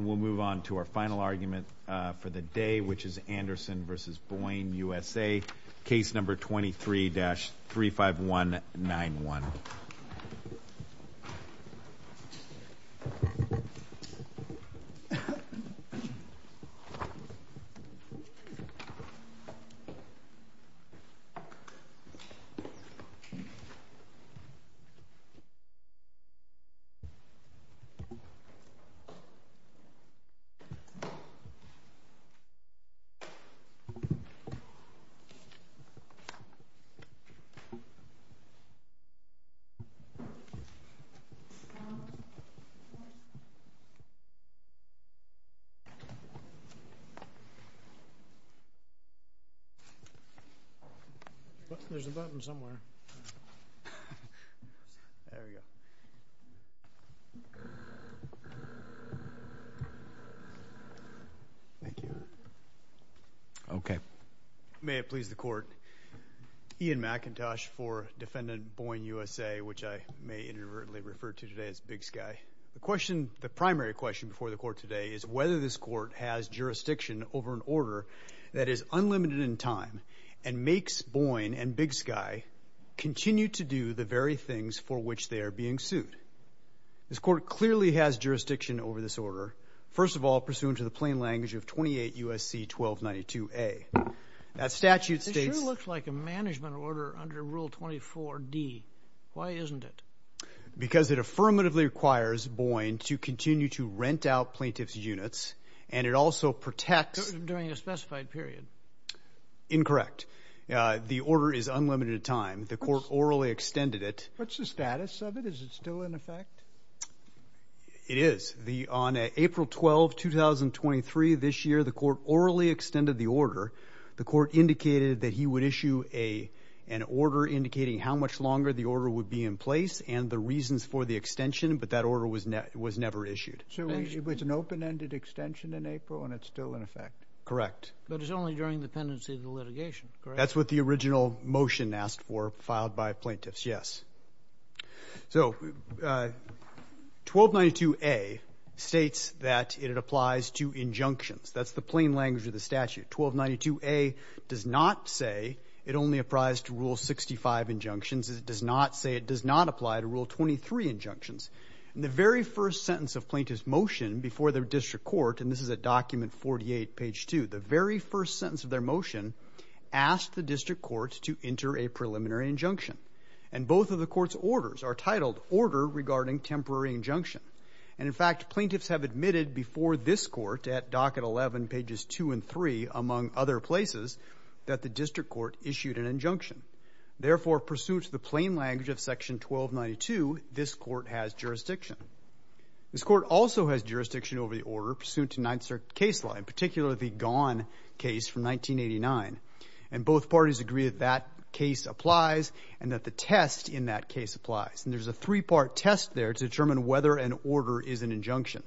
We'll move on to our final argument for the day, which is Anderson v. Boyne USA, case number 23-35191. There's a button somewhere. There we go. Thank you. Okay. May it please the Court. Ian McIntosh for Defendant Boyne USA, which I may inadvertently refer to today as Big Sky. The question, the primary question before the Court today is whether this Court has jurisdiction over an order that is unlimited in time and makes Boyne and Big Sky continue to do the very things for which they are being sued. This Court clearly has jurisdiction over this order, first of all, pursuant to the plain language of 28 U.S.C. 1292A. That statute states... It sure looks like a management order under Rule 24D. Why isn't it? Because it affirmatively requires Boyne to continue to rent out plaintiff's units, and it also protects... During a specified period. Incorrect. The order is unlimited in time. The Court orally extended it. What's the status of it? Is it still in effect? It is. On April 12, 2023, this year, the Court orally extended the order. The Court indicated that he would issue an order indicating how much longer the order would be in place and the reasons for the extension, but that order was never issued. So it's an open-ended extension in April, and it's still in effect? Correct. But it's only during the pendency of the litigation, correct? That's what the original motion asked for, filed by plaintiffs, yes. So 1292A states that it applies to injunctions. That's the plain language of the statute. 1292A does not say it only applies to Rule 65 injunctions. It does not say it does not apply to Rule 23 injunctions. In the very first sentence of plaintiff's motion before the district court, and this is at document 48, page 2, the very first sentence of their motion asked the district court to enter a preliminary injunction. And both of the court's orders are titled Order Regarding Temporary Injunction. And, in fact, plaintiffs have admitted before this court at docket 11, pages 2 and 3, among other places, that the district court issued an injunction. Therefore, pursuant to the plain language of section 1292, this court has jurisdiction. This court also has jurisdiction over the order pursuant to Ninth Circuit case law, in particular the Gaughan case from 1989. And both parties agree that that case applies and that the test in that case applies. And there's a three-part test there to determine whether an order is an injunction.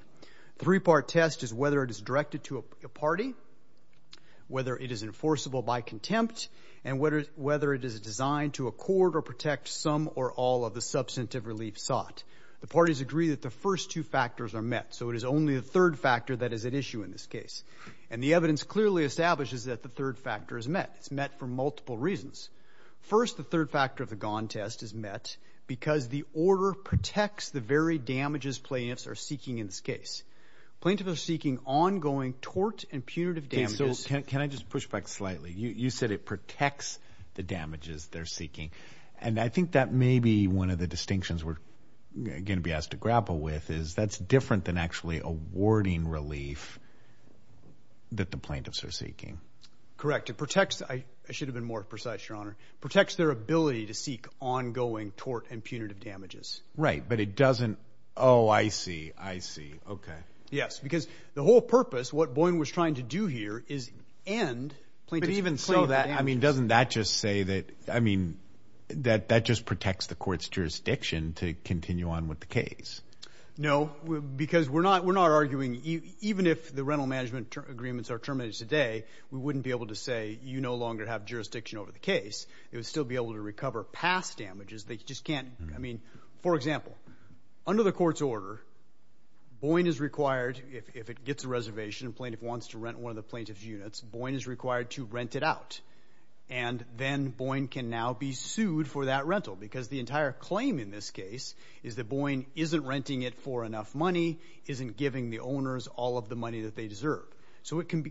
The three-part test is whether it is directed to a party, whether it is enforceable by contempt, and whether it is designed to accord or protect some or all of the substantive relief sought. The parties agree that the first two factors are met, so it is only the third factor that is at issue in this case. And the evidence clearly establishes that the third factor is met. It's met for multiple reasons. First, the third factor of the Gaughan test is met because the order protects the very damages plaintiffs are seeking in this case. Plaintiffs are seeking ongoing tort and punitive damages. So, can I just push back slightly? You said it protects the damages they're seeking. And I think that may be one of the distinctions we're going to be asked to grapple with is that's different than actually awarding relief that the plaintiffs are seeking. Correct. It protects. I should have been more precise, Your Honor. It protects their ability to seek ongoing tort and punitive damages. Right, but it doesn't. Oh, I see. I see. Okay. Yes, because the whole purpose, what Boyne was trying to do here, is end plaintiffs' damages. But even so, I mean, doesn't that just say that, I mean, that that just protects the court's jurisdiction to continue on with the case? No, because we're not arguing even if the rental management agreements are terminated today, we wouldn't be able to say you no longer have jurisdiction over the case. It would still be able to recover past damages that you just can't. I mean, for example, under the court's order, Boyne is required, if it gets a reservation and a plaintiff wants to rent one of the plaintiff's units, Boyne is required to rent it out. And then Boyne can now be sued for that rental because the entire claim in this case is that Boyne isn't renting it for enough money, isn't giving the owners all of the money that they deserve. So the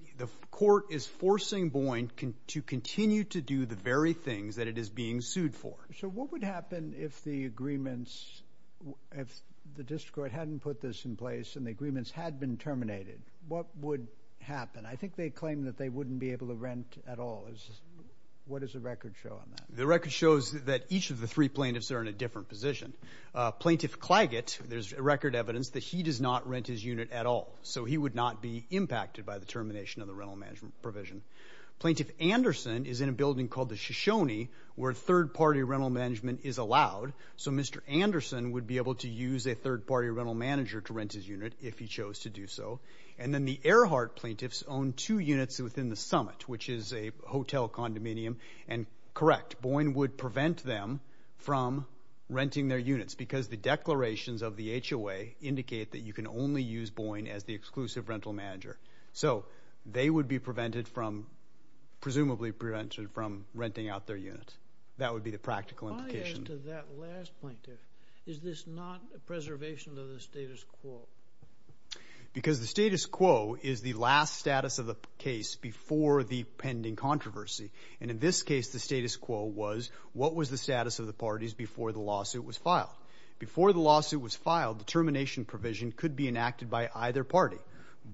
court is forcing Boyne to continue to do the very things that it is being sued for. So what would happen if the agreements, if the district court hadn't put this in place and the agreements had been terminated? What would happen? I think they claim that they wouldn't be able to rent at all. What does the record show on that? The record shows that each of the three plaintiffs are in a different position. Plaintiff Claggett, there's record evidence that he does not rent his unit at all, so he would not be impacted by the termination of the rental management provision. Plaintiff Anderson is in a building called the Shoshone where third-party rental management is allowed, so Mr. Anderson would be able to use a third-party rental manager to rent his unit if he chose to do so. And then the Earhart plaintiffs own two units within the Summit, which is a hotel condominium. And correct, Boyne would prevent them from renting their units because the declarations of the HOA indicate that you can only use Boyne as the exclusive rental manager. So they would be presumably prevented from renting out their units. That would be the practical implication. If I add to that last point there, is this not a preservation of the status quo? Because the status quo is the last status of the case before the pending controversy. And in this case, the status quo was, what was the status of the parties before the lawsuit was filed? Before the lawsuit was filed, the termination provision could be enacted by either party. What?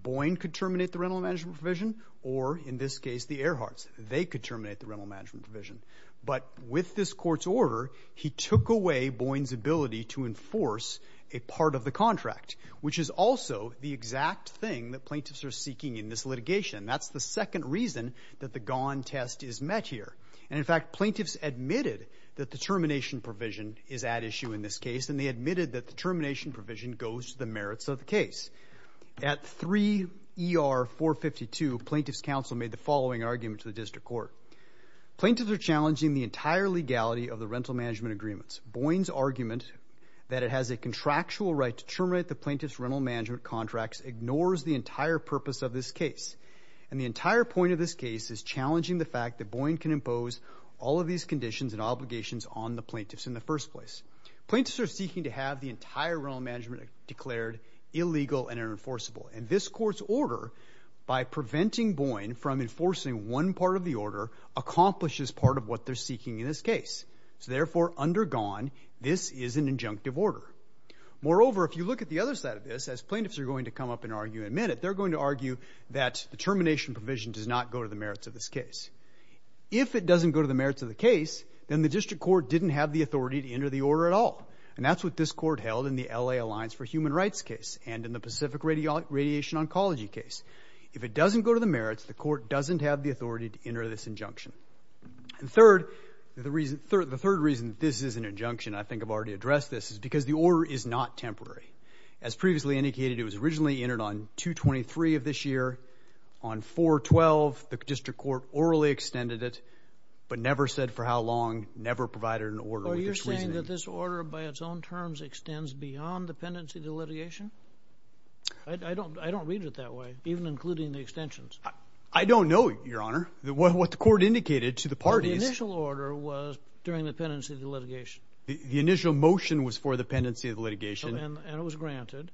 Boyne could terminate the rental management provision, or in this case, the Earharts. They could terminate the rental management provision. But with this court's order, he took away Boyne's ability to enforce a part of the contract, which is also the exact thing that plaintiffs are seeking in this litigation. That's the second reason that the gone test is met here. And in fact, plaintiffs admitted that the termination provision is at issue in this case, and they admitted that the termination provision goes to the merits of the case. At 3 ER 452, plaintiffs' counsel made the following argument to the district court. Plaintiffs are challenging the entire legality of the rental management agreements. Boyne's argument that it has a contractual right to terminate the plaintiffs' rental management contracts ignores the entire purpose of this case. And the entire point of this case is challenging the fact that Boyne can impose all of these conditions and obligations on the plaintiffs in the first place. Plaintiffs are seeking to have the entire rental management declared illegal and unenforceable. And this court's order, by preventing Boyne from enforcing one part of the order, accomplishes part of what they're seeking in this case. So therefore, undergone, this is an injunctive order. Moreover, if you look at the other side of this, as plaintiffs are going to come up and argue in a minute, they're going to argue that the termination provision does not go to the merits of this case. If it doesn't go to the merits of the case, then the district court didn't have the authority to enter the order at all. And that's what this court held in the L.A. Alliance for Human Rights case and in the Pacific Radiation Oncology case. If it doesn't go to the merits, the court doesn't have the authority to enter this injunction. And third, the third reason this is an injunction, I think I've already addressed this, is because the order is not temporary. As previously indicated, it was originally entered on 223 of this year. On 412, the district court orally extended it, but never said for how long, never provided an order with this reasoning. Are you saying that this order by its own terms extends beyond the pendency of the litigation? I don't read it that way, even including the extensions. I don't know, Your Honor, what the court indicated to the parties. The initial order was during the pendency of the litigation. The initial motion was for the pendency of the litigation. And it was granted.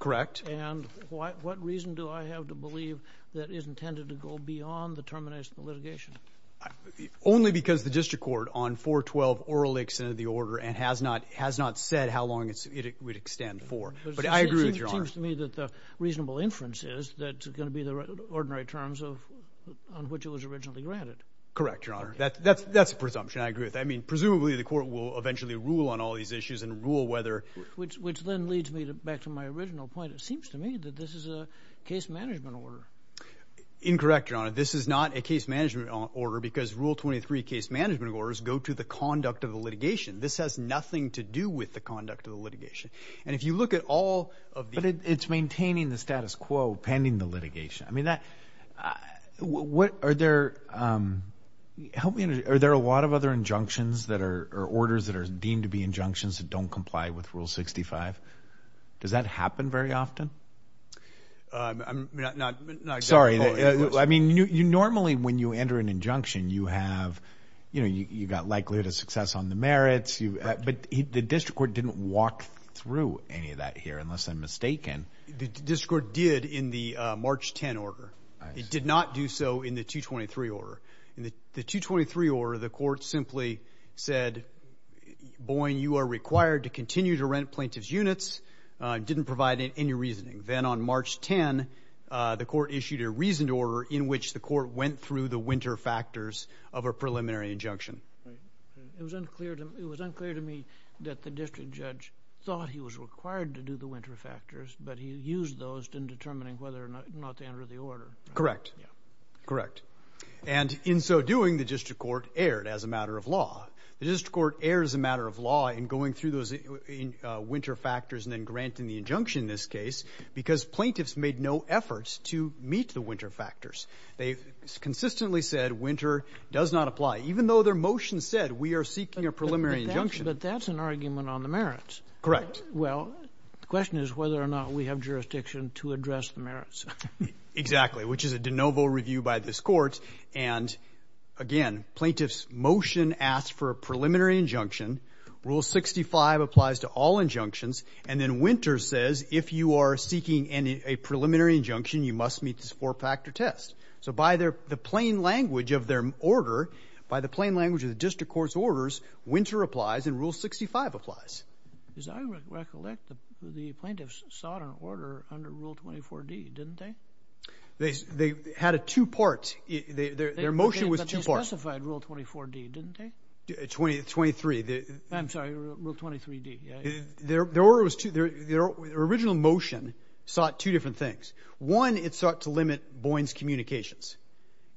Correct. And what reason do I have to believe that it is intended to go beyond the termination of the litigation? Only because the district court on 412 orally extended the order and has not said how long it would extend for. But I agree with Your Honor. It seems to me that the reasonable inference is that it's going to be the ordinary terms on which it was originally granted. Correct, Your Honor. That's a presumption. I agree with that. I mean, presumably the court will eventually rule on all these issues and rule whether— Which then leads me back to my original point. It seems to me that this is a case management order. Incorrect, Your Honor. This is not a case management order because Rule 23 case management orders go to the conduct of the litigation. This has nothing to do with the conduct of the litigation. And if you look at all of the— But it's maintaining the status quo pending the litigation. I mean, are there a lot of other injunctions or orders that are deemed to be injunctions that don't comply with Rule 65? Does that happen very often? I'm not— Sorry. I mean, normally when you enter an injunction, you have—you know, you've got likelihood of success on the merits. But the district court didn't walk through any of that here, unless I'm mistaken. The district court did in the March 10 order. It did not do so in the 223 order. In the 223 order, the court simply said, Boyne, you are required to continue to rent plaintiff's units. It didn't provide any reasoning. Then on March 10, the court issued a reasoned order in which the court went through the winter factors of a preliminary injunction. It was unclear to me that the district judge thought he was required to do the winter factors, but he used those in determining whether or not to enter the order. Correct. Correct. And in so doing, the district court erred as a matter of law. The district court erred as a matter of law in going through those winter factors and then granting the injunction in this case because plaintiffs made no efforts to meet the winter factors. They consistently said winter does not apply, even though their motion said we are seeking a preliminary injunction. But that's an argument on the merits. Correct. Well, the question is whether or not we have jurisdiction to address the merits. Exactly, which is a de novo review by this court. And, again, plaintiff's motion asked for a preliminary injunction. Rule 65 applies to all injunctions. And then winter says if you are seeking a preliminary injunction, you must meet this four-factor test. So by the plain language of their order, by the plain language of the district court's orders, winter applies and Rule 65 applies. As I recollect, the plaintiffs sought an order under Rule 24D, didn't they? They had a two-part. Their motion was two parts. But they specified Rule 24D, didn't they? 23. I'm sorry. Rule 23D. Their original motion sought two different things. One, it sought to limit Boyne's communications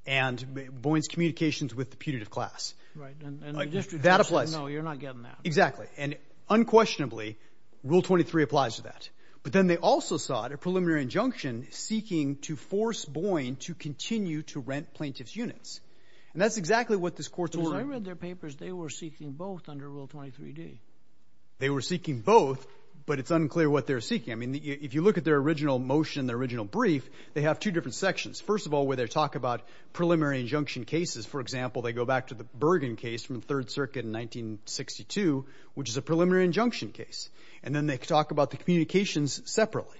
and Boyne's communications with the punitive class. Right. And the district court said no, you're not getting that. Exactly. And unquestionably, Rule 23 applies to that. But then they also sought a preliminary injunction seeking to force Boyne to continue to rent plaintiff's units. And that's exactly what this court ordered. Because I read their papers. They were seeking both under Rule 23D. They were seeking both, but it's unclear what they were seeking. I mean, if you look at their original motion, their original brief, they have two different sections. First of all, where they talk about preliminary injunction cases. For example, they go back to the Bergen case from the Third Circuit in 1962, which is a preliminary injunction case. And then they talk about the communications separately.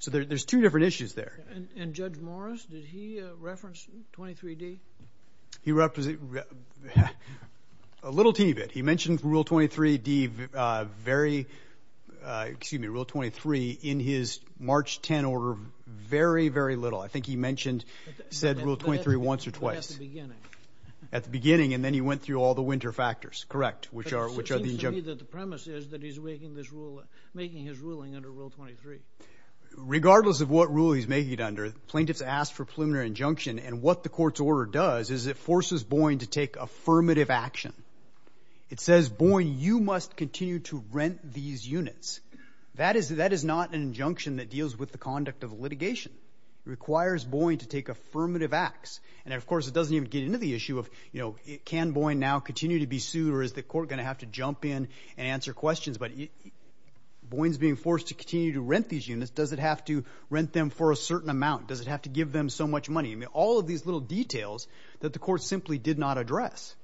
So there's two different issues there. And Judge Morris, did he reference 23D? He referenced a little teeny bit. He mentioned Rule 23D very, excuse me, Rule 23 in his March 10 order very, very little. I think he mentioned, said Rule 23 once or twice. At the beginning. At the beginning. And then he went through all the winter factors. Correct. But it seems to me that the premise is that he's making his ruling under Rule 23. Regardless of what rule he's making it under, plaintiffs ask for preliminary injunction. And what the court's order does is it forces Boyne to take affirmative action. It says, Boyne, you must continue to rent these units. That is not an injunction that deals with the conduct of litigation. It requires Boyne to take affirmative acts. And, of course, it doesn't even get into the issue of can Boyne now continue to be sued or is the court going to have to jump in and answer questions? But Boyne's being forced to continue to rent these units. Does it have to rent them for a certain amount? Does it have to give them so much money? I mean, all of these little details that the court simply did not address.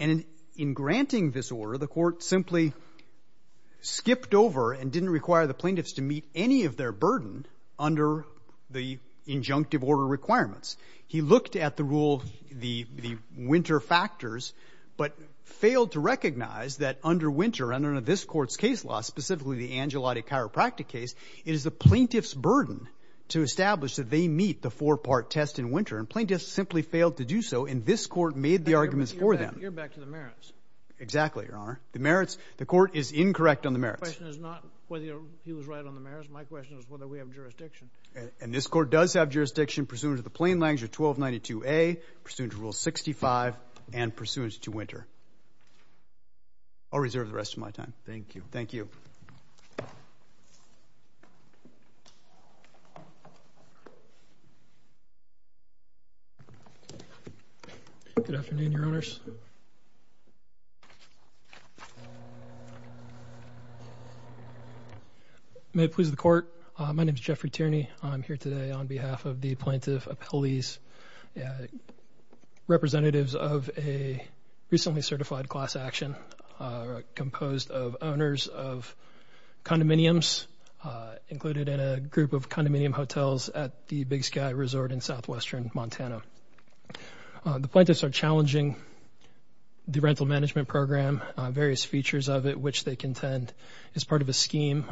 And in granting this order, the court simply skipped over and didn't require the plaintiffs to meet any of their burden under the injunctive order requirements. He looked at the rule of the winter factors but failed to recognize that under winter, under this court's case law, specifically the Angelotti chiropractic case, it is the plaintiff's burden to establish that they meet the four-part test in winter. And plaintiffs simply failed to do so. And this court made the arguments for them. You're back to the merits. Exactly, Your Honor. The merits. The court is incorrect on the merits. My question is not whether he was right on the merits. My question is whether we have jurisdiction. And this court does have jurisdiction pursuant to the plain language of 1292A, pursuant to Rule 65, and pursuant to winter. I'll reserve the rest of my time. Thank you. Thank you. Good afternoon, Your Honors. May it please the Court. My name is Jeffrey Tierney. I'm here today on behalf of the Plaintiff Appellees, representatives of a recently certified class action composed of owners of condominiums included in a group of condominium hotels at the Big Sky Resort in southwestern Montana. The plaintiffs are challenging the rental management program, various features of it which they contend is part of a scheme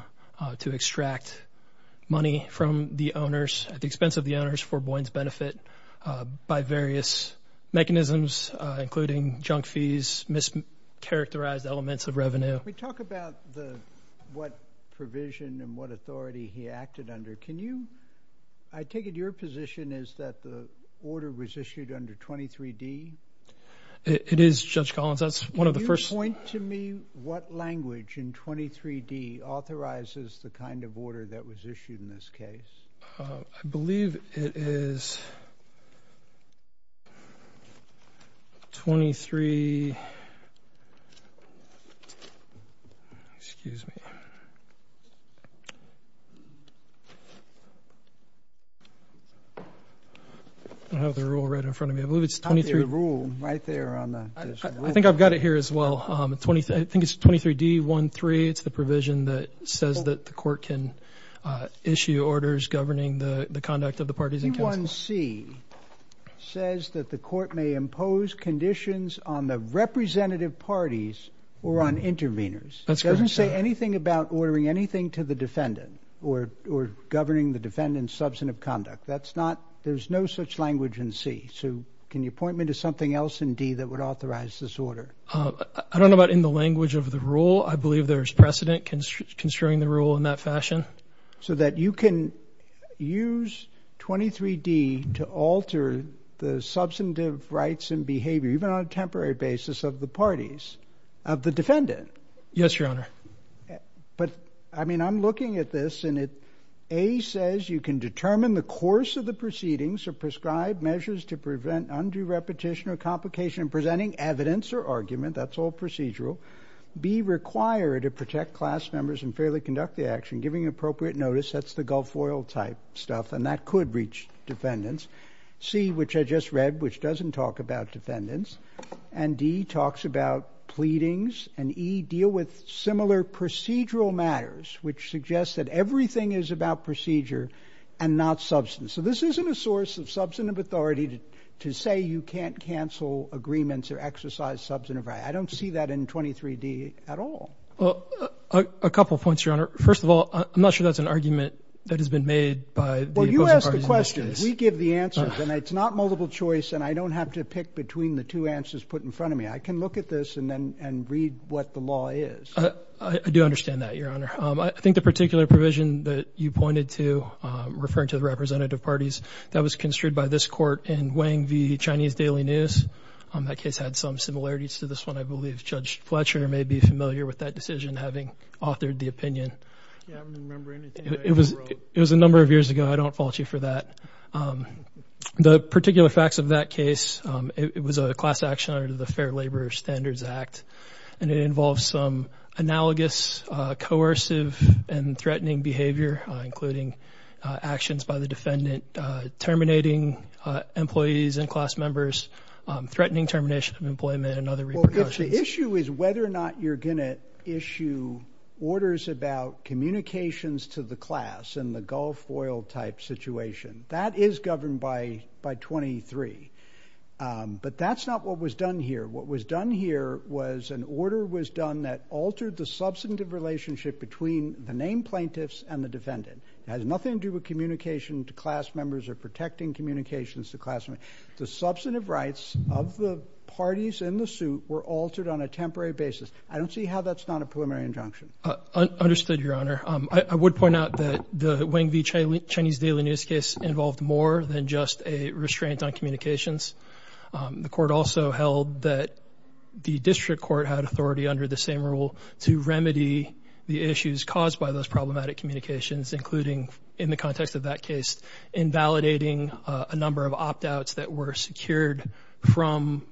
to extract money from the owners at the expense of the owners for Boyne's benefit by various mechanisms, including junk fees, mischaracterized elements of revenue. Can we talk about what provision and what authority he acted under? I take it your position is that the order was issued under 23D? It is, Judge Collins. That's one of the first... Can you point to me what language in 23D authorizes the kind of order that was issued in this case? I believe it is 23... Excuse me. I have the rule right in front of me. I believe it's 23... I think I've got it here as well. I think it's 23D-1-3. It's the provision that says that the court can issue orders governing the conduct of the parties in counsel. 21C says that the court may impose conditions on the representative parties or on interveners. That's correct. It doesn't say anything about ordering anything to the defendant or governing the defendant's substantive conduct. That's not... there's no such language in C. So can you point me to something else in D that would authorize this order? I don't know about in the language of the rule. I believe there's precedent concerning the rule in that fashion. So that you can use 23D to alter the substantive rights and behavior, even on a temporary basis, of the parties, of the defendant. Yes, Your Honor. But, I mean, I'm looking at this, and it... A says you can determine the course of the proceedings or prescribe measures to prevent undue repetition or complication in presenting evidence or argument. That's all procedural. B, require to protect class members and fairly conduct the action, giving appropriate notice. That's the Gulf Oil type stuff, and that could reach defendants. C, which I just read, which doesn't talk about defendants. And D talks about pleadings. And E, deal with similar procedural matters, which suggests that everything is about procedure and not substance. So this isn't a source of substantive authority to say you can't cancel agreements or exercise substantive rights. I don't see that in 23D at all. Well, a couple points, Your Honor. First of all, I'm not sure that's an argument that has been made by the opposing parties. Well, you ask the questions. We give the answers. And it's not multiple choice, and I don't have to pick between the two answers put in front of me. I can look at this and read what the law is. I do understand that, Your Honor. I think the particular provision that you pointed to, referring to the representative parties, that was construed by this Court in Wang v. Chinese Daily News. That case had some similarities to this one. I believe Judge Fletcher may be familiar with that decision, having authored the opinion. I don't remember anything. It was a number of years ago. I don't fault you for that. The particular facts of that case, it was a class action under the Fair Labor Standards Act, and it involves some analogous coercive and threatening behavior, including actions by the defendant, terminating employees and class members, threatening termination of employment and other repercussions. The issue is whether or not you're going to issue orders about communications to the class in the Gulf Oil type situation. That is governed by 23. But that's not what was done here. What was done here was an order was done that altered the substantive relationship between the named plaintiffs and the defendant. It has nothing to do with communication to class members or protecting communications to class members. The substantive rights of the parties in the suit were altered on a temporary basis. I don't see how that's not a preliminary injunction. Understood, Your Honor. I would point out that the Wang v. Chinese Daily News case involved more than just a restraint on communications. The Court also held that the district court had authority under the same rule to remedy the issues caused by those problematic communications, including, in the context of that case, invalidating a number of opt-outs that were secured from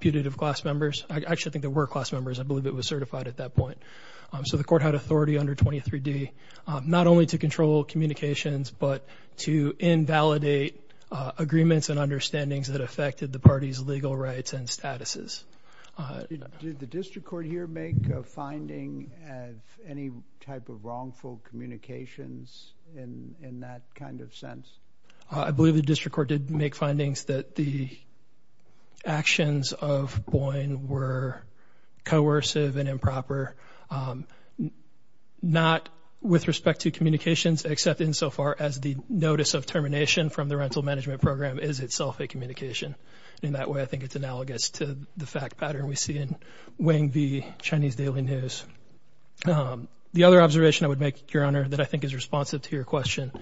putative class members. I actually think there were class members. I believe it was certified at that point. So the Court had authority under 23D not only to control communications, but to invalidate agreements and understandings that affected the parties' legal rights and statuses. Did the district court here make a finding of any type of wrongful communications in that kind of sense? I believe the district court did make findings that the actions of Boyne were coercive and improper, not with respect to communications, except insofar as the notice of termination from the rental management program is itself a communication. In that way, I think it's analogous to the fact pattern we see in Wang v. Chinese Daily News. The other observation I would make, Your Honor, that I think is responsive to your question,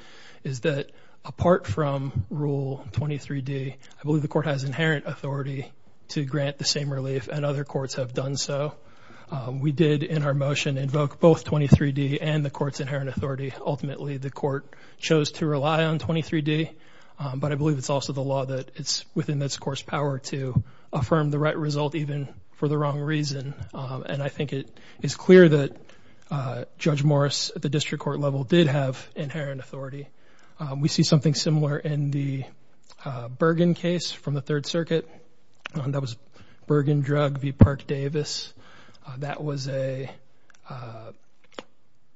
is that apart from Rule 23D, I believe the Court has inherent authority to grant the same relief, and other courts have done so. We did in our motion invoke both 23D and the Court's inherent authority. Ultimately, the Court chose to rely on 23D, but I believe it's also the law that it's within this Court's power to affirm the right result, even for the wrong reason. And I think it is clear that Judge Morris at the district court level did have inherent authority. We see something similar in the Bergen case from the Third Circuit. That was Bergen drug v. Park Davis. That was an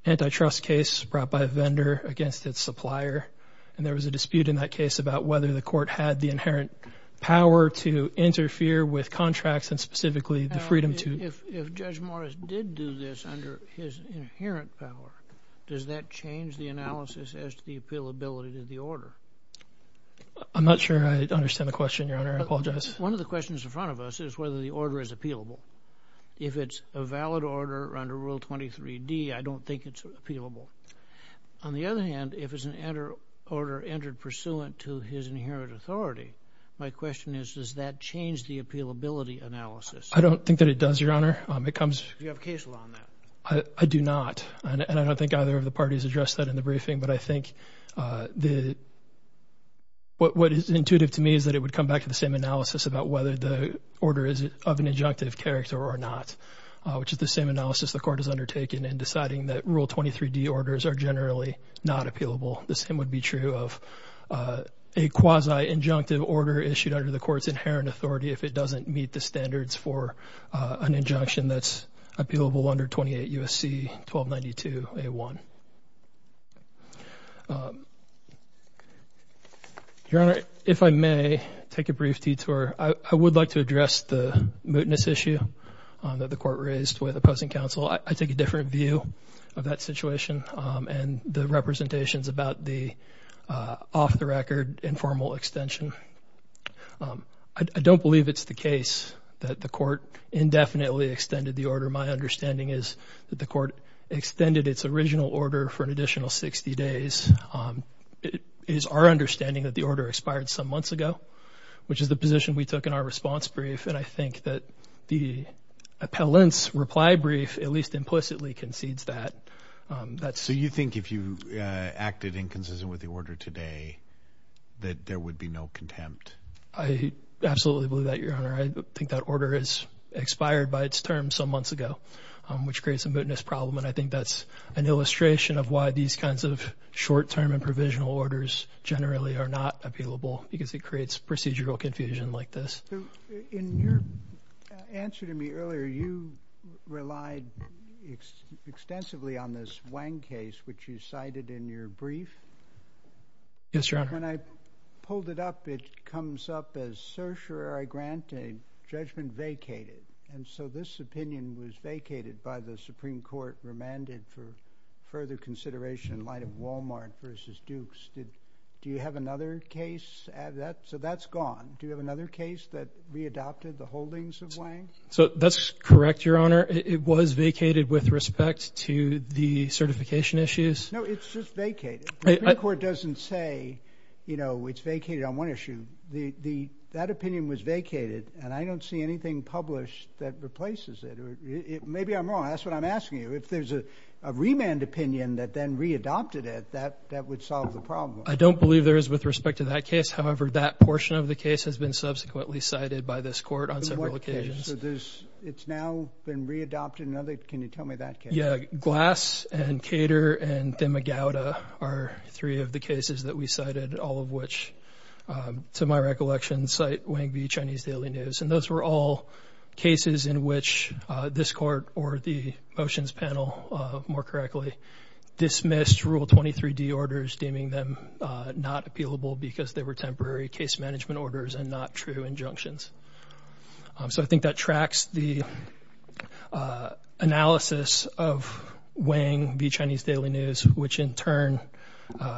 antitrust case brought by a vendor against its supplier, and there was a dispute in that case about whether the Court had the inherent power to interfere with contracts and specifically the freedom to... If Judge Morris did do this under his inherent power, does that change the analysis as to the appealability to the order? I'm not sure I understand the question, Your Honor. I apologize. One of the questions in front of us is whether the order is appealable. If it's a valid order under Rule 23D, I don't think it's appealable. On the other hand, if it's an order entered pursuant to his inherent authority, my question is does that change the appealability analysis? I don't think that it does, Your Honor. Do you have a case law on that? I do not, and I don't think either of the parties addressed that in the briefing, but I think what is intuitive to me is that it would come back to the same analysis about whether the order is of an injunctive character or not, which is the same analysis the Court has undertaken in deciding that Rule 23D orders are generally not appealable. The same would be true of a quasi-injunctive order issued under the Court's inherent authority if it doesn't meet the standards for an injunction that's appealable under 28 U.S.C. 1292a1. Your Honor, if I may take a brief detour, I would like to address the mootness issue that the Court raised with opposing counsel. I take a different view of that situation and the representations about the off-the-record informal extension. I don't believe it's the case that the Court indefinitely extended the order. My understanding is that the Court extended its original order for an additional 60 days. It is our understanding that the order expired some months ago, which is the position we took in our response brief, and I think that the appellant's reply brief at least implicitly concedes that. So you think if you acted inconsistent with the order today that there would be no contempt? I absolutely believe that, Your Honor. I think that order expired by its term some months ago, which creates a mootness problem, and I think that's an illustration of why these kinds of short-term and provisional orders generally are not appealable, because it creates procedural confusion like this. In your answer to me earlier, you relied extensively on this Wang case, which you cited in your brief. Yes, Your Honor. When I pulled it up, it comes up as certiorari grante, judgment vacated, and so this opinion was vacated by the Supreme Court, remanded for further consideration in light of Wal-Mart versus Dukes. Do you have another case? So that's gone. Do you have another case that readopted the holdings of Wang? So that's correct, Your Honor. It was vacated with respect to the certification issues. No, it's just vacated. The Supreme Court doesn't say, you know, it's vacated on one issue. That opinion was vacated, and I don't see anything published that replaces it. Maybe I'm wrong. That's what I'm asking you. If there's a remand opinion that then readopted it, that would solve the problem. I don't believe there is with respect to that case. However, that portion of the case has been subsequently cited by this court on several occasions. So it's now been readopted. Can you tell me that case? Yeah. Glass and Cater and Demigauda are three of the cases that we cited, all of which, to my recollection, cite Wang v. Chinese Daily News, and those were all cases in which this court or the motions panel, more correctly, dismissed Rule 23d orders deeming them not appealable because they were temporary case management orders and not true injunctions. So I think that tracks the analysis of Wang v. Chinese Daily News, which in turn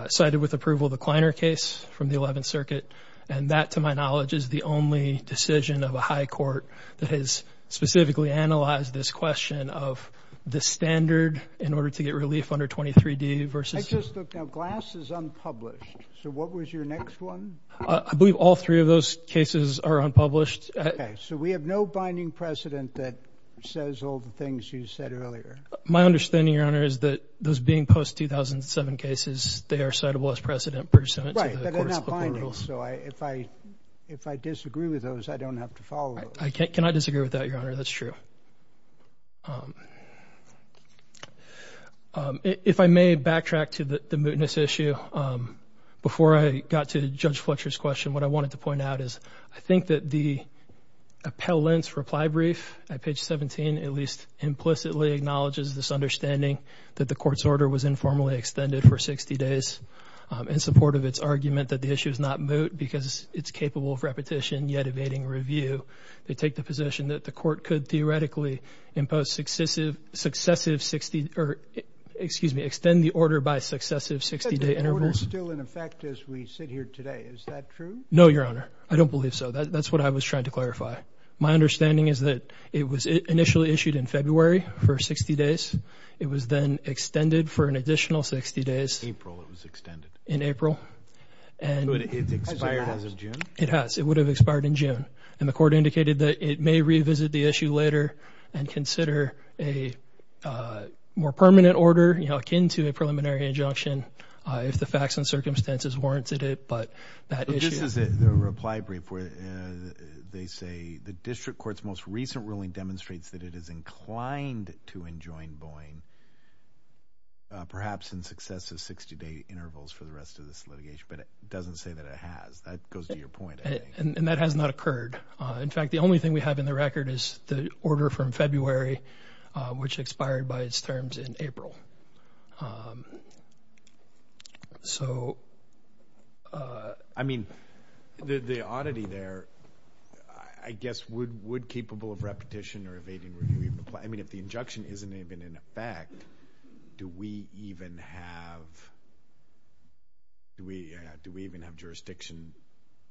cited with approval the Kleiner case from the Eleventh Circuit, and that, to my knowledge, is the only decision of a high court that has specifically analyzed this question of the standard in order to get relief under 23d versus... I just don't know. Glass is unpublished. So what was your next one? I believe all three of those cases are unpublished. Okay. So we have no binding precedent that says all the things you said earlier. My understanding, Your Honor, is that those being post-2007 cases, they are citable as precedent pursuant to the courts' local rules. Right, but they're not binding. So if I disagree with those, I don't have to follow those. I cannot disagree with that, Your Honor. That's true. If I may backtrack to the mootness issue, before I got to Judge Fletcher's question, what I wanted to point out is I think that the appellant's reply brief at page 17 at least implicitly acknowledges this understanding that the court's order was informally extended for 60 days in support of its argument that the issue is not moot because it's capable of repetition yet evading review. They take the position that the court could theoretically impose successive 60 – or, excuse me, extend the order by successive 60-day intervals. But the order's still in effect as we sit here today. Is that true? No, Your Honor. I don't believe so. That's what I was trying to clarify. My understanding is that it was initially issued in February for 60 days. It was then extended for an additional 60 days. In April it was extended. In April. It expired as of June? It has. It would have expired in June. And the court indicated that it may revisit the issue later and consider a more permanent order akin to a preliminary injunction if the facts and circumstances warranted it. But that issue – But this is the reply brief where they say the district court's most recent ruling demonstrates that it is inclined to enjoin Boeing perhaps in successive 60-day intervals for the rest of this litigation. But it doesn't say that it has. That goes to your point, I think. And that has not occurred. In fact, the only thing we have in the record is the order from February, which expired by its terms in April. So – I mean, the oddity there, I guess, would capable of repetition or evading review be – I mean, if the injunction isn't even in effect, do we even have jurisdiction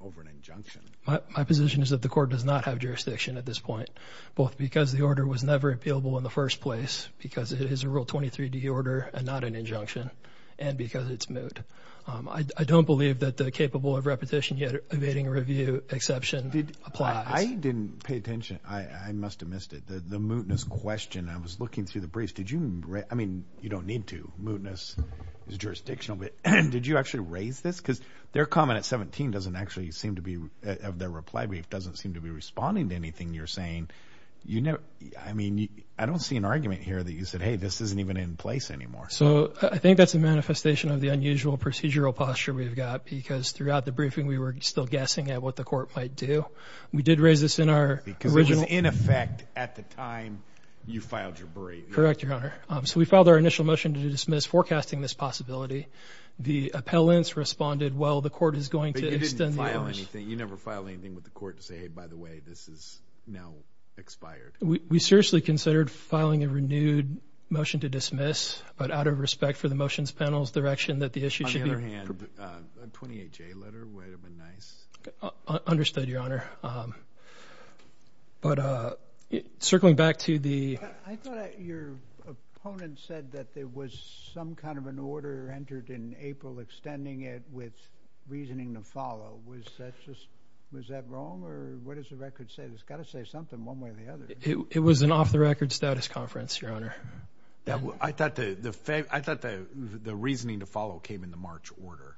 over an injunction? My position is that the court does not have jurisdiction at this point, both because the order was never appealable in the first place, because it is a Rule 23d order and not an injunction, and because it's moot. I don't believe that the capable of repetition yet evading review exception applies. I didn't pay attention. I must have missed it. The mootness question, I was looking through the briefs. Did you – I mean, you don't need to. Mootness is jurisdictional. But did you actually raise this? Because their comment at 17 doesn't actually seem to be – their reply brief doesn't seem to be responding to anything you're saying. I mean, I don't see an argument here that you said, hey, this isn't even in place anymore. So I think that's a manifestation of the unusual procedural posture we've got, because throughout the briefing we were still guessing at what the court might do. We did raise this in our original – Because it was in effect at the time you filed your brief. Correct, Your Honor. So we filed our initial motion to dismiss forecasting this possibility. The appellants responded, well, the court is going to extend the orders. But you didn't file anything. You never filed anything with the court to say, hey, by the way, this is now expired. We seriously considered filing a renewed motion to dismiss, but out of respect for the motions panel's direction that the issue should be – On the other hand, a 28-J letter would have been nice. Understood, Your Honor. But circling back to the – I thought your opponent said that there was some kind of an order entered in April extending it with reasoning to follow. Was that wrong, or what does the record say? It's got to say something one way or the other. It was an off-the-record status conference, Your Honor. I thought the reasoning to follow came in the March order.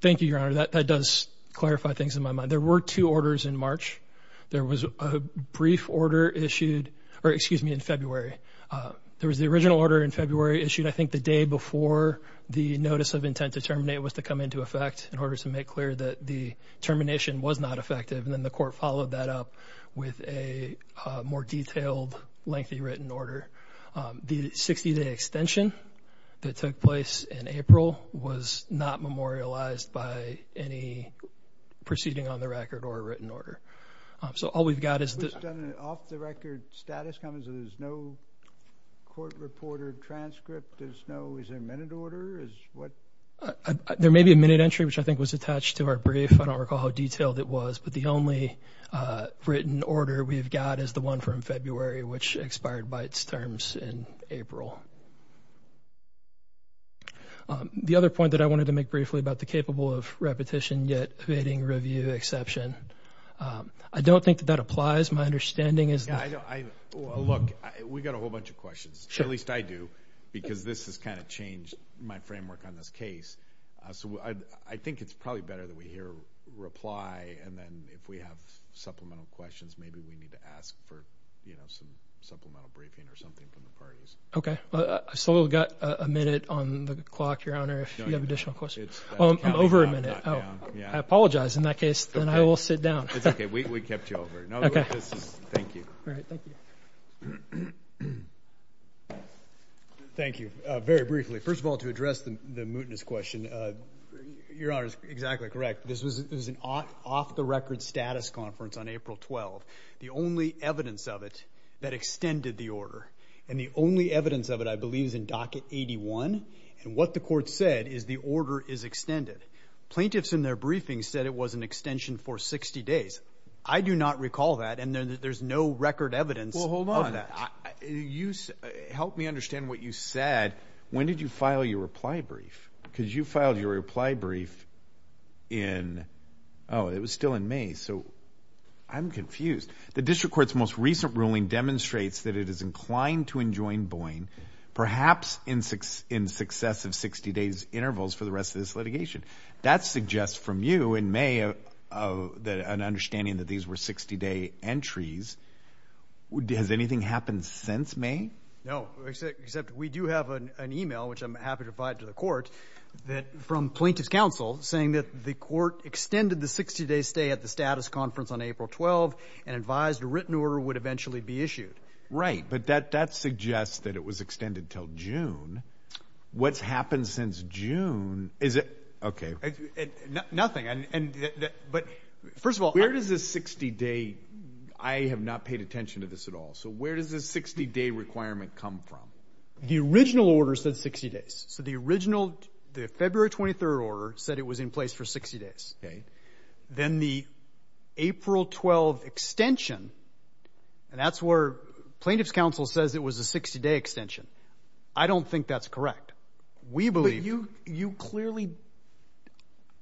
Thank you, Your Honor. That does clarify things in my mind. There were two orders in March. There was a brief order issued – or excuse me, in February. There was the original order in February issued, I think, the day before the notice of intent to terminate was to come into effect in order to make clear that the termination was not effective, and then the court followed that up with a more detailed, lengthy written order. The 60-day extension that took place in April was not memorialized by any proceeding on the record or a written order. So all we've got is the – Was it an off-the-record status conference? There's no court reporter transcript? There's no – is there a minute order? There may be a minute entry, which I think was attached to our brief. I don't recall how detailed it was. But the only written order we've got is the one from February, which expired by its terms in April. The other point that I wanted to make briefly about the capable of repetition yet evading review exception, I don't think that that applies. My understanding is that – Look, we've got a whole bunch of questions, at least I do, because this has kind of changed my framework on this case. So I think it's probably better that we hear a reply, and then if we have supplemental questions, maybe we need to ask for some supplemental briefing or something from the parties. Okay. So we've got a minute on the clock, Your Honor, if you have additional questions. I'm over a minute. I apologize in that case, then I will sit down. It's okay. We kept you over. No, this is – thank you. All right. Thank you. Thank you. Very briefly, first of all, to address the mootness question, Your Honor is exactly correct. This was an off-the-record status conference on April 12th. The only evidence of it that extended the order, and the only evidence of it I believe is in Docket 81, and what the court said is the order is extended. Plaintiffs in their briefing said it was an extension for 60 days. I do not recall that, and there's no record evidence of that. Well, hold on. Help me understand what you said. When did you file your reply brief? Because you filed your reply brief in – oh, it was still in May. So I'm confused. The district court's most recent ruling demonstrates that it is inclined to enjoin Boeing, perhaps in success of 60 days intervals for the rest of this litigation. That suggests from you in May an understanding that these were 60-day entries. Has anything happened since May? No, except we do have an email, which I'm happy to provide to the court, from plaintiffs' counsel saying that the court extended the 60-day stay at the status conference on April 12th and advised a written order would eventually be issued. Right, but that suggests that it was extended until June. What's happened since June? Is it – okay. Nothing. First of all, where does this 60-day – I have not paid attention to this at all. So where does this 60-day requirement come from? The original order said 60 days. So the original – the February 23rd order said it was in place for 60 days. Then the April 12 extension, and that's where plaintiffs' counsel says it was a 60-day extension. I don't think that's correct. We believe – But you clearly –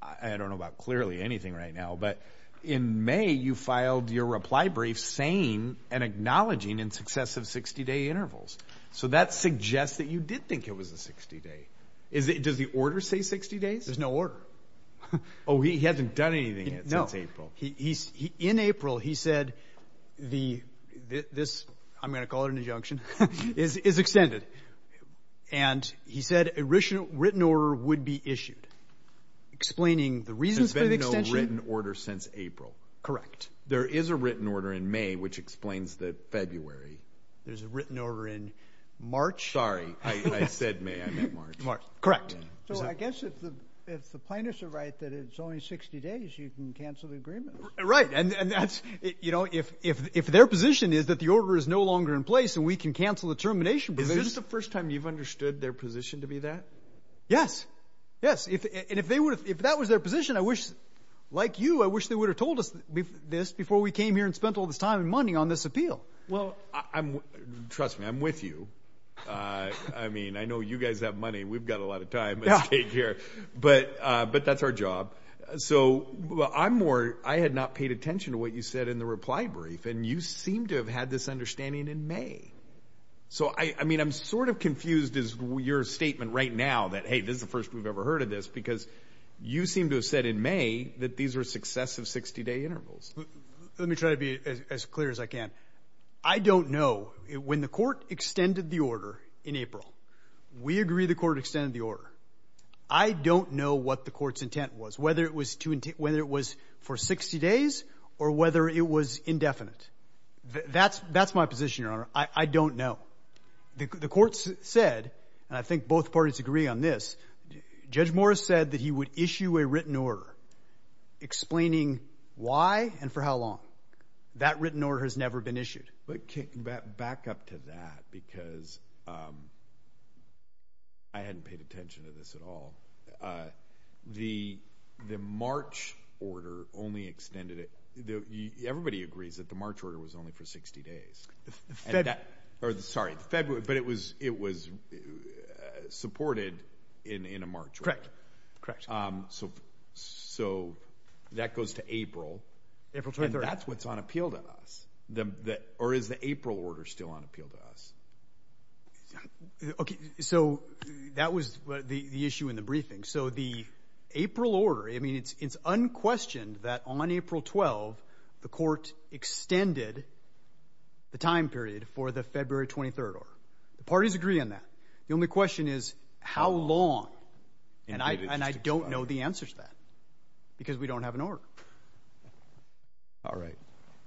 I don't know about clearly anything right now, but in May you filed your reply brief saying and acknowledging in success of 60-day intervals. So that suggests that you did think it was a 60-day. Does the order say 60 days? There's no order. Oh, he hasn't done anything since April. No. In April he said this – I'm going to call it an injunction – is extended. And he said a written order would be issued, explaining the reasons for the extension. There's been no written order since April. Correct. There is a written order in May which explains the February. There's a written order in March. Sorry. I said May. I meant March. Correct. So I guess if the plaintiffs are right that it's only 60 days, you can cancel the agreement. Right. And that's – you know, if their position is that the order is no longer in place and we can cancel the termination process. Is this the first time you've understood their position to be that? Yes. Yes. And if that was their position, I wish – like you, I wish they would have told us this before we came here and spent all this time and money on this appeal. Well, I'm – trust me, I'm with you. I mean, I know you guys have money. We've got a lot of time at stake here. But that's our job. So I'm more – I had not paid attention to what you said in the reply brief, and you seem to have had this understanding in May. So, I mean, I'm sort of confused is your statement right now that, hey, this is the first we've ever heard of this, because you seem to have said in May that these are successive 60-day intervals. Let me try to be as clear as I can. I don't know. When the court extended the order in April, we agree the court extended the order. I don't know what the court's intent was, whether it was for 60 days or whether it was indefinite. That's my position, Your Honor. I don't know. The court said, and I think both parties agree on this, Judge Morris said that he would issue a written order explaining why and for how long. That written order has never been issued. But back up to that, because I hadn't paid attention to this at all. The March order only extended it. Everybody agrees that the March order was only for 60 days. Sorry, February, but it was supported in a March order. Correct, correct. So that goes to April. April 23rd. And that's what's on appeal to us. Or is the April order still on appeal to us? Okay, so that was the issue in the briefing. So the April order, I mean, it's unquestioned that on April 12th, the court extended the time period for the February 23rd order. The parties agree on that. The only question is how long. And I don't know the answer to that because we don't have an order. All right.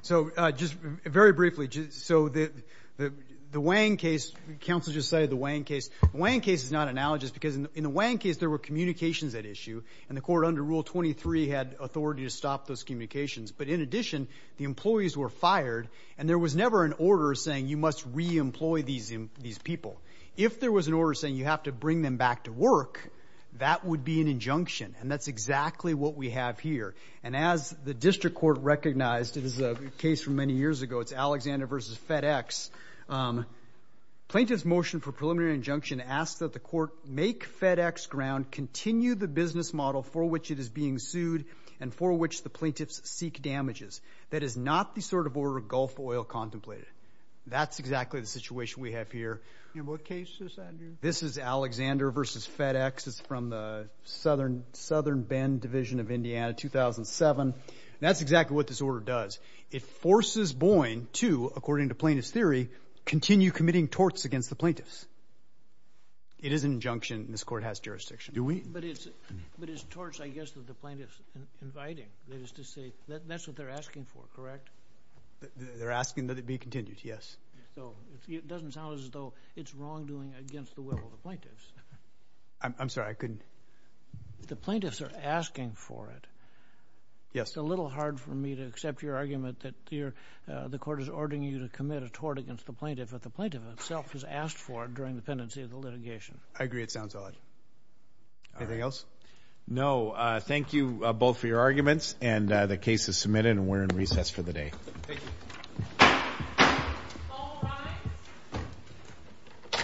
So just very briefly, so the Wang case, counsel just cited the Wang case. The Wang case is not analogous because in the Wang case, there were communications at issue, and the court under Rule 23 had authority to stop those communications. But in addition, the employees were fired, and there was never an order saying you must re-employ these people. If there was an order saying you have to bring them back to work, that would be an injunction, and that's exactly what we have here. And as the district court recognized, it is a case from many years ago. It's Alexander v. FedEx. Plaintiff's motion for preliminary injunction asks that the court make FedEx ground, continue the business model for which it is being sued and for which the plaintiffs seek damages. That is not the sort of order Gulf Oil contemplated. That's exactly the situation we have here. And what case is that, Andrew? This is Alexander v. FedEx. It's from the Southern Bend Division of Indiana, 2007. That's exactly what this order does. It forces Boyne to, according to plaintiff's theory, continue committing torts against the plaintiffs. It is an injunction, and this court has jurisdiction. Do we? But it's torts, I guess, that the plaintiff's inviting. That is to say, that's what they're asking for, correct? They're asking that it be continued, yes. So it doesn't sound as though it's wrongdoing against the will of the plaintiffs. I'm sorry, I couldn't. The plaintiffs are asking for it. Yes. It's a little hard for me to accept your argument that the court is ordering you to commit a tort against the plaintiff, but the plaintiff itself has asked for it during the pendency of the litigation. I agree it sounds all right. Anything else? No. Thank you both for your arguments, and the case is submitted, and we're in recess for the day. Thank you. All rise.